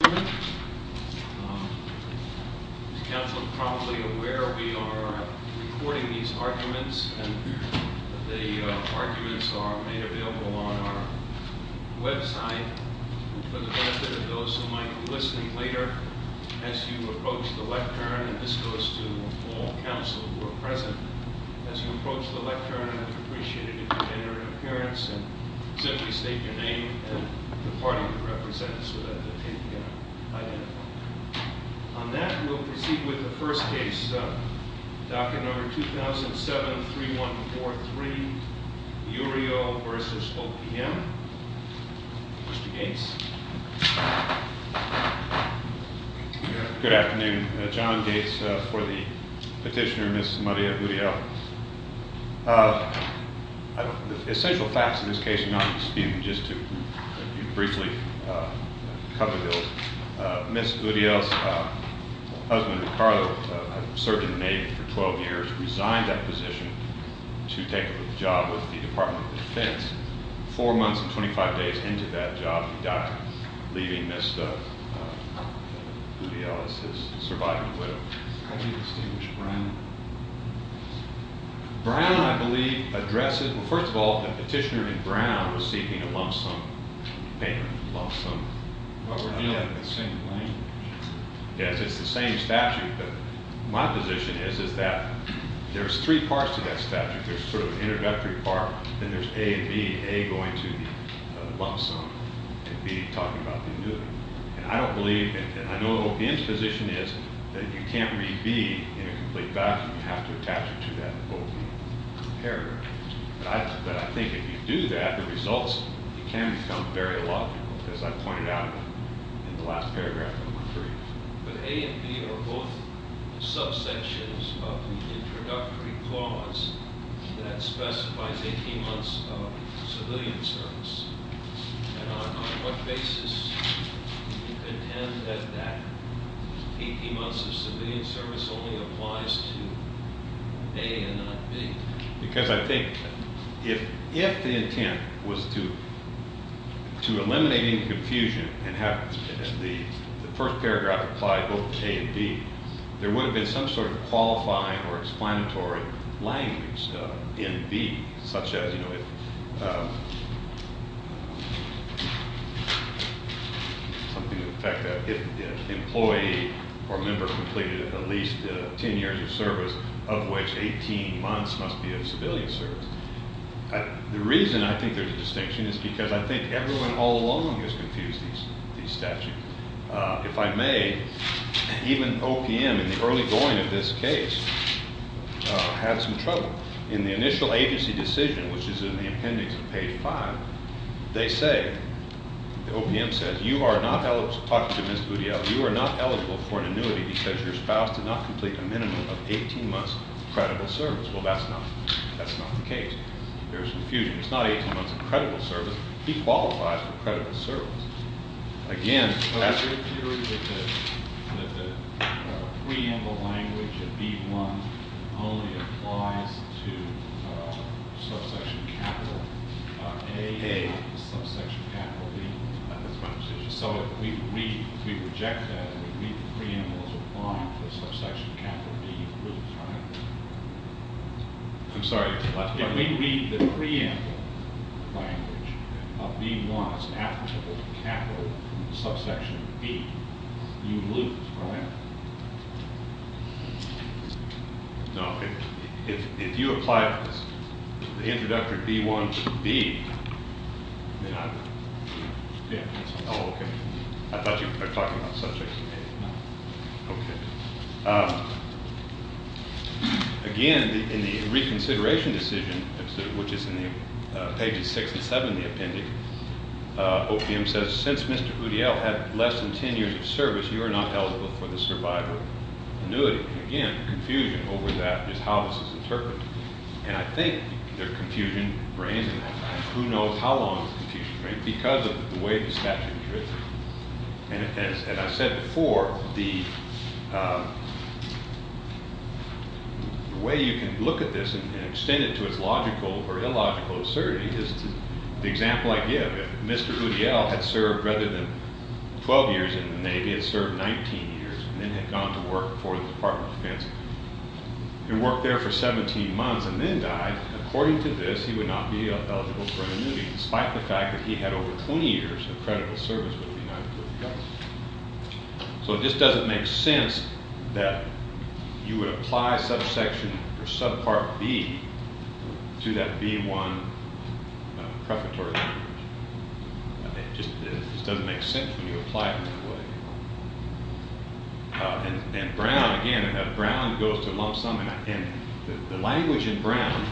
This council is probably aware we are recording these arguments and the arguments are made available on our website for the benefit of those who might be listening later. As you approach the lectern, and this goes to all council who are present, as you approach the lectern, I would appreciate it if you would enter an appearance and simply state your name and the party you represent so that they can take the interview. On that, we'll proceed with the first case, docket number 2007-3143, Uriel v. OPM. Mr. Gates. Good afternoon. John Gates for the petitioner, Ms. Maria Gutierrez. The essential facts of this case are not disputed, just to briefly cover the bills. Ms. Uriel's husband, Ricardo, had served in the Navy for 12 years, resigned that position to take up a job with the Department of Defense. Four months and 25 days into that job, he died, leaving Ms. Uriel as his surviving widow. How do you distinguish Brown? Brown, I believe, addresses, well, first of all, the petitioner in Brown was seeking a lump sum payment. Lump sum. But we're dealing with the same language. Yes, it's the same statute, but my position is that there's three parts to that statute. There's sort of an introductory part, then there's A and B, A going to the lump sum, and B talking about the annuity. And I don't believe, and I know OPM's position is that you can't read B in a complete vacuum. You have to attach it to that OPM paragraph. But I think if you do that, the results can become very logical, as I pointed out in the last paragraph of my brief. But A and B are both subsections of the introductory clause that specifies 18 months of civilian service. And on what basis do you contend that that 18 months of civilian service only applies to A and not B? Because I think if the intent was to eliminate any confusion and have the first paragraph apply both to A and B, there would have been some sort of qualifying or explanatory language in B, such as, you know, something to the effect that if an employee or member completed at least 10 years of service, of which 18 months must be of civilian service. The reason I think there's a distinction is because I think everyone all along has confused these statutes. If I may, even OPM in the early going of this case had some trouble. In the initial agency decision, which is in the appendix of page 5, they say, OPM says, you are not eligible, talking to Ms. Budial, you are not eligible for an annuity because your spouse did not complete a minimum of 18 months of credible service. Well, that's not the case. There's confusion. It's not 18 months of credible service. He qualifies for credible service. Again, the preamble language of B1 only applies to subsection capital A, not to subsection capital B. That's my understanding. So if we reject that and we read the preamble as applying to the subsection capital B, we're trying to- I'm sorry. If we read the preamble language of B1 as applicable to capital from the subsection B, you lose, right? No. If you apply this to the introductory B1 to B, then I would- Yeah. Oh, okay. I thought you were talking about subject to B. No. Okay. Again, in the reconsideration decision, which is in pages 6 and 7 of the appendix, OPM says since Mr. Budial had less than 10 years of service, you are not eligible for the survival annuity. Again, confusion over that is how this is interpreted. And I think there are confusion brains in that. Who knows how long the confusion brain is because of the way the statute is written. And as I said before, the way you can look at this and extend it to its logical or illogical absurdity is the example I give. If Mr. Budial had served rather than 12 years in the Navy, had served 19 years, and then had gone to work for the Department of Defense and worked there for 17 months and then died, according to this, he would not be eligible for an annuity, despite the fact that he had over 20 years of credible service with the United States government. So it just doesn't make sense that you would apply subsection or subpart B to that B-1 prefatory language. It just doesn't make sense when you apply it in that way. And Brown, again, Brown goes to lump sum, and the language in Brown,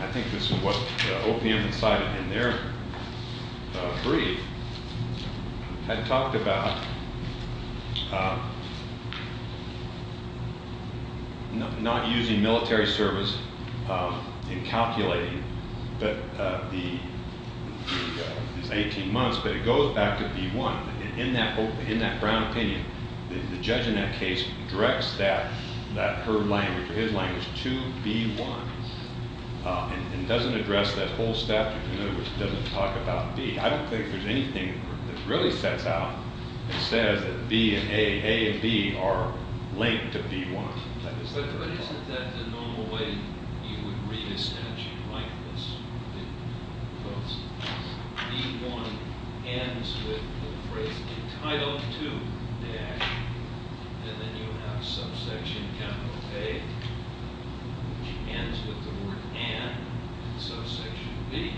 I think this is what OPM decided in their brief, had talked about not using military service in calculating these 18 months, but it goes back to B-1. And in that Brown opinion, the judge in that case directs that, her language or his language, to B-1 and doesn't address that whole statute. In other words, doesn't talk about B. I don't think there's anything that really sets out and says that B and A, A and B are linked to B-1. But isn't that the normal way you would read a statute like this? Because B-1 ends with the phrase entitled to, and then you have subsection capital A, which ends with the word and, and subsection B.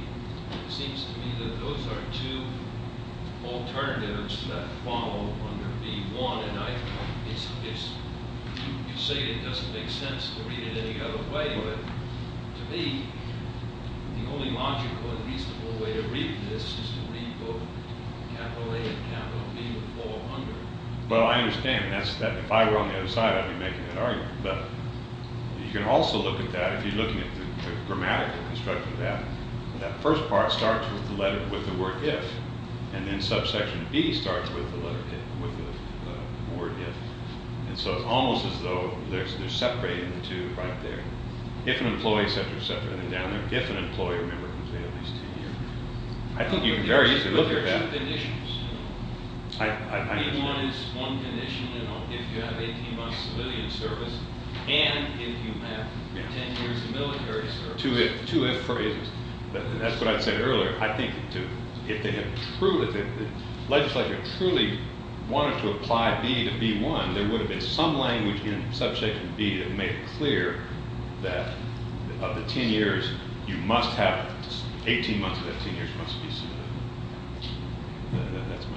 It seems to me that those are two alternatives that follow under B-1. You say it doesn't make sense to read it any other way, but to me, the only logical and reasonable way to read this is to read both capital A and capital B all under. Well, I understand, and if I were on the other side, I'd be making that argument. But you can also look at that, if you're looking at the grammatical construction of that, that first part starts with the letter, with the word if, and then subsection B starts with the letter if, with the word if. And so it's almost as though they're separating the two right there. If an employee, etc., etc., and then down there, if an employee, remember, can stay at least 10 years. I think you can very easily look at that. But there's two conditions, you know. I, I, I. B-1 is one condition, you know, if you have 18 months civilian service, and if you have 10 years of military service. Two if, two if phrases. That's what I said earlier. I think if they had truly, if the legislature truly wanted to apply B to B-1, there would have been some language in subsection B that made it clear that of the 10 years, you must have, 18 months of that 10 years must be civilian. That, that, that's my opinion.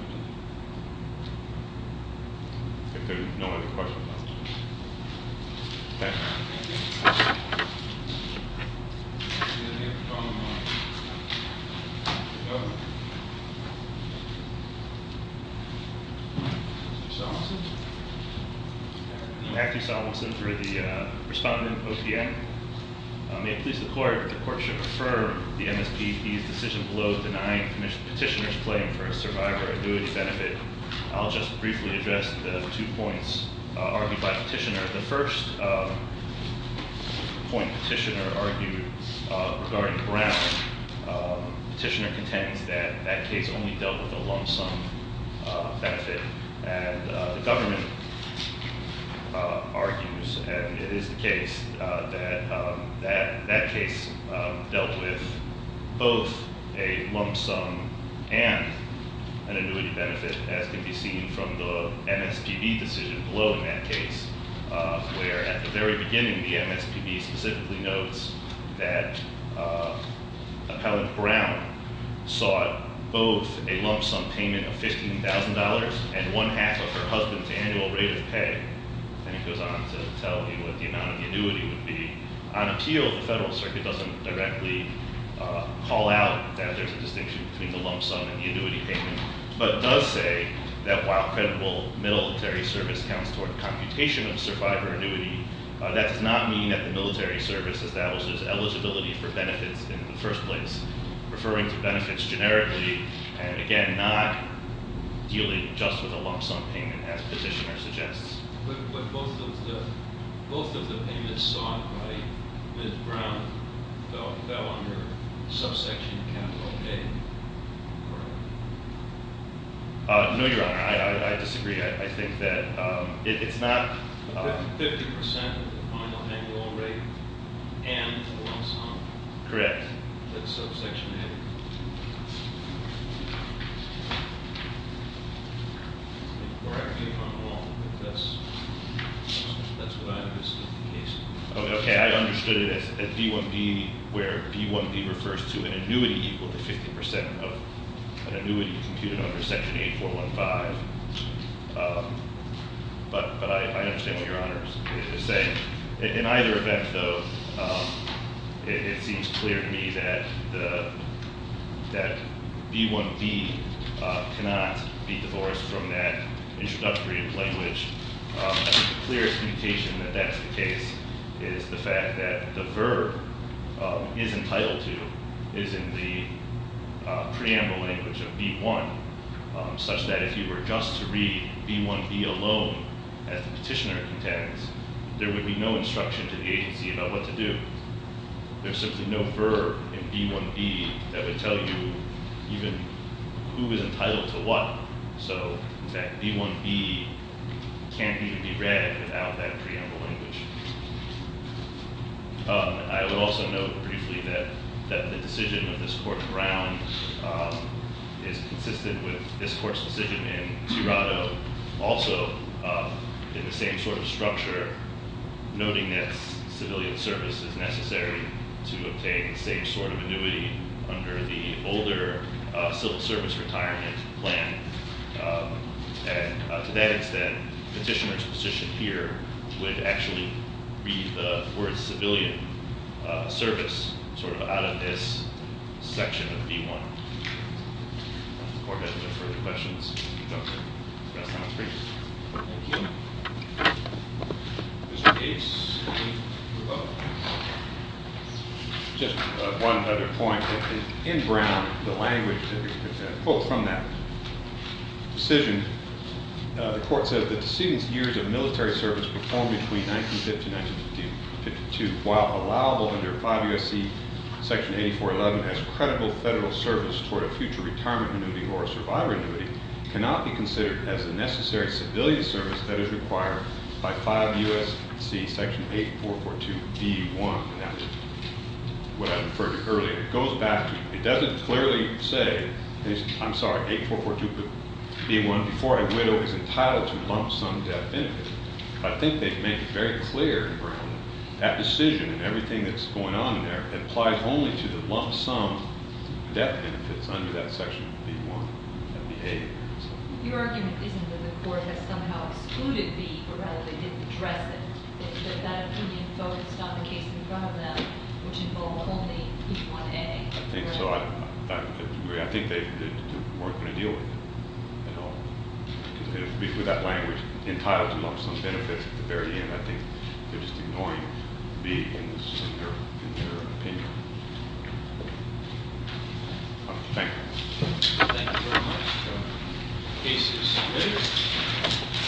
If there are no other questions. Okay. Thank you. Mr. Solomonson. I'm Matthew Solomonson for the respondent, OPM. May it please the court that the court should refer the MSPP's decision below denying petitioner's claim for a survivor annuity benefit. I'll just briefly address the two points argued by the petitioner. The first point petitioner argued regarding Brown. Petitioner contends that that case only dealt with a lump sum benefit, and the government argues, and it is the case, that that case dealt with both a lump sum and an annuity benefit, as can be seen from the MSPB decision below in that case. Where at the very beginning, the MSPB specifically notes that Appellant Brown sought both a lump sum payment of $15,000, and one half of her husband's annual rate of pay, and it goes on to tell you what the amount of annuity would be. On appeal, the Federal Circuit doesn't directly call out that there's a distinction between the lump sum and the annuity payment, but does say that while credible military service counts toward computation of survivor annuity, that does not mean that the military service establishes eligibility for benefits in the first place. Referring to benefits generically, and again, not dealing just with a lump sum payment as petitioner suggests. But both of the payments sought by Ms. Brown fell under subsection capital A, correct? No, Your Honor, I disagree. I think that it's not- 50% of the final annual rate and the lump sum. Correct. That's subsection A. Correct me if I'm wrong, but that's what I understood the case to be. Okay, I understood it as B1B, where B1B refers to an annuity equal to 50% of an annuity computed under section 8415. But I understand what Your Honor is saying. In either event, though, it seems clear to me that B1B cannot be divorced from that introductory language. The clearest mutation that that's the case is the fact that the verb is entitled to, is in the preamble language of B1, such that if you were just to read B1B alone, as the petitioner contends, there would be no instruction to the agency about what to do. There's simply no verb in B1B that would tell you even who is entitled to what. So, in fact, B1B can't even be read without that preamble language. I would also note briefly that the decision of this court, Brown, is consistent with this court's decision in Tirado. Also, in the same sort of structure, noting that civilian service is necessary to obtain the same sort of annuity under the older civil service retirement plan. And to that extent, petitioner's position here would actually be for civilian service sort of out of this section of B1. If the court has no further questions, we'll go to the last time on the screen. Thank you. Mr. Case, can you move up? Just one other point. In Brown, the language, the quote from that decision, the court said, that the decedent's years of military service performed between 1950 and 1952, while allowable under 5 U.S.C. section 8411 as credible federal service toward a future retirement annuity or a survivor annuity, cannot be considered as the necessary civilian service that is required by 5 U.S.C. section 8442B1, what I referred to earlier. It goes back to, it doesn't clearly say, I'm sorry, 8442B1, before a widow is entitled to lump sum death benefit. I think they make it very clear in Brown that decision and everything that's going on in there applies only to the lump sum death benefits under that section of B1, that would be A. Your argument isn't that the court has somehow excluded B, but rather they didn't address it, that that opinion focused on the case in front of them, which involved only B1A. I think they weren't going to deal with it at all. With that language, entitled to lump sum benefits at the very end, I think they're just ignoring B in their opinion. Thank you. Thank you very much. The case is submitted.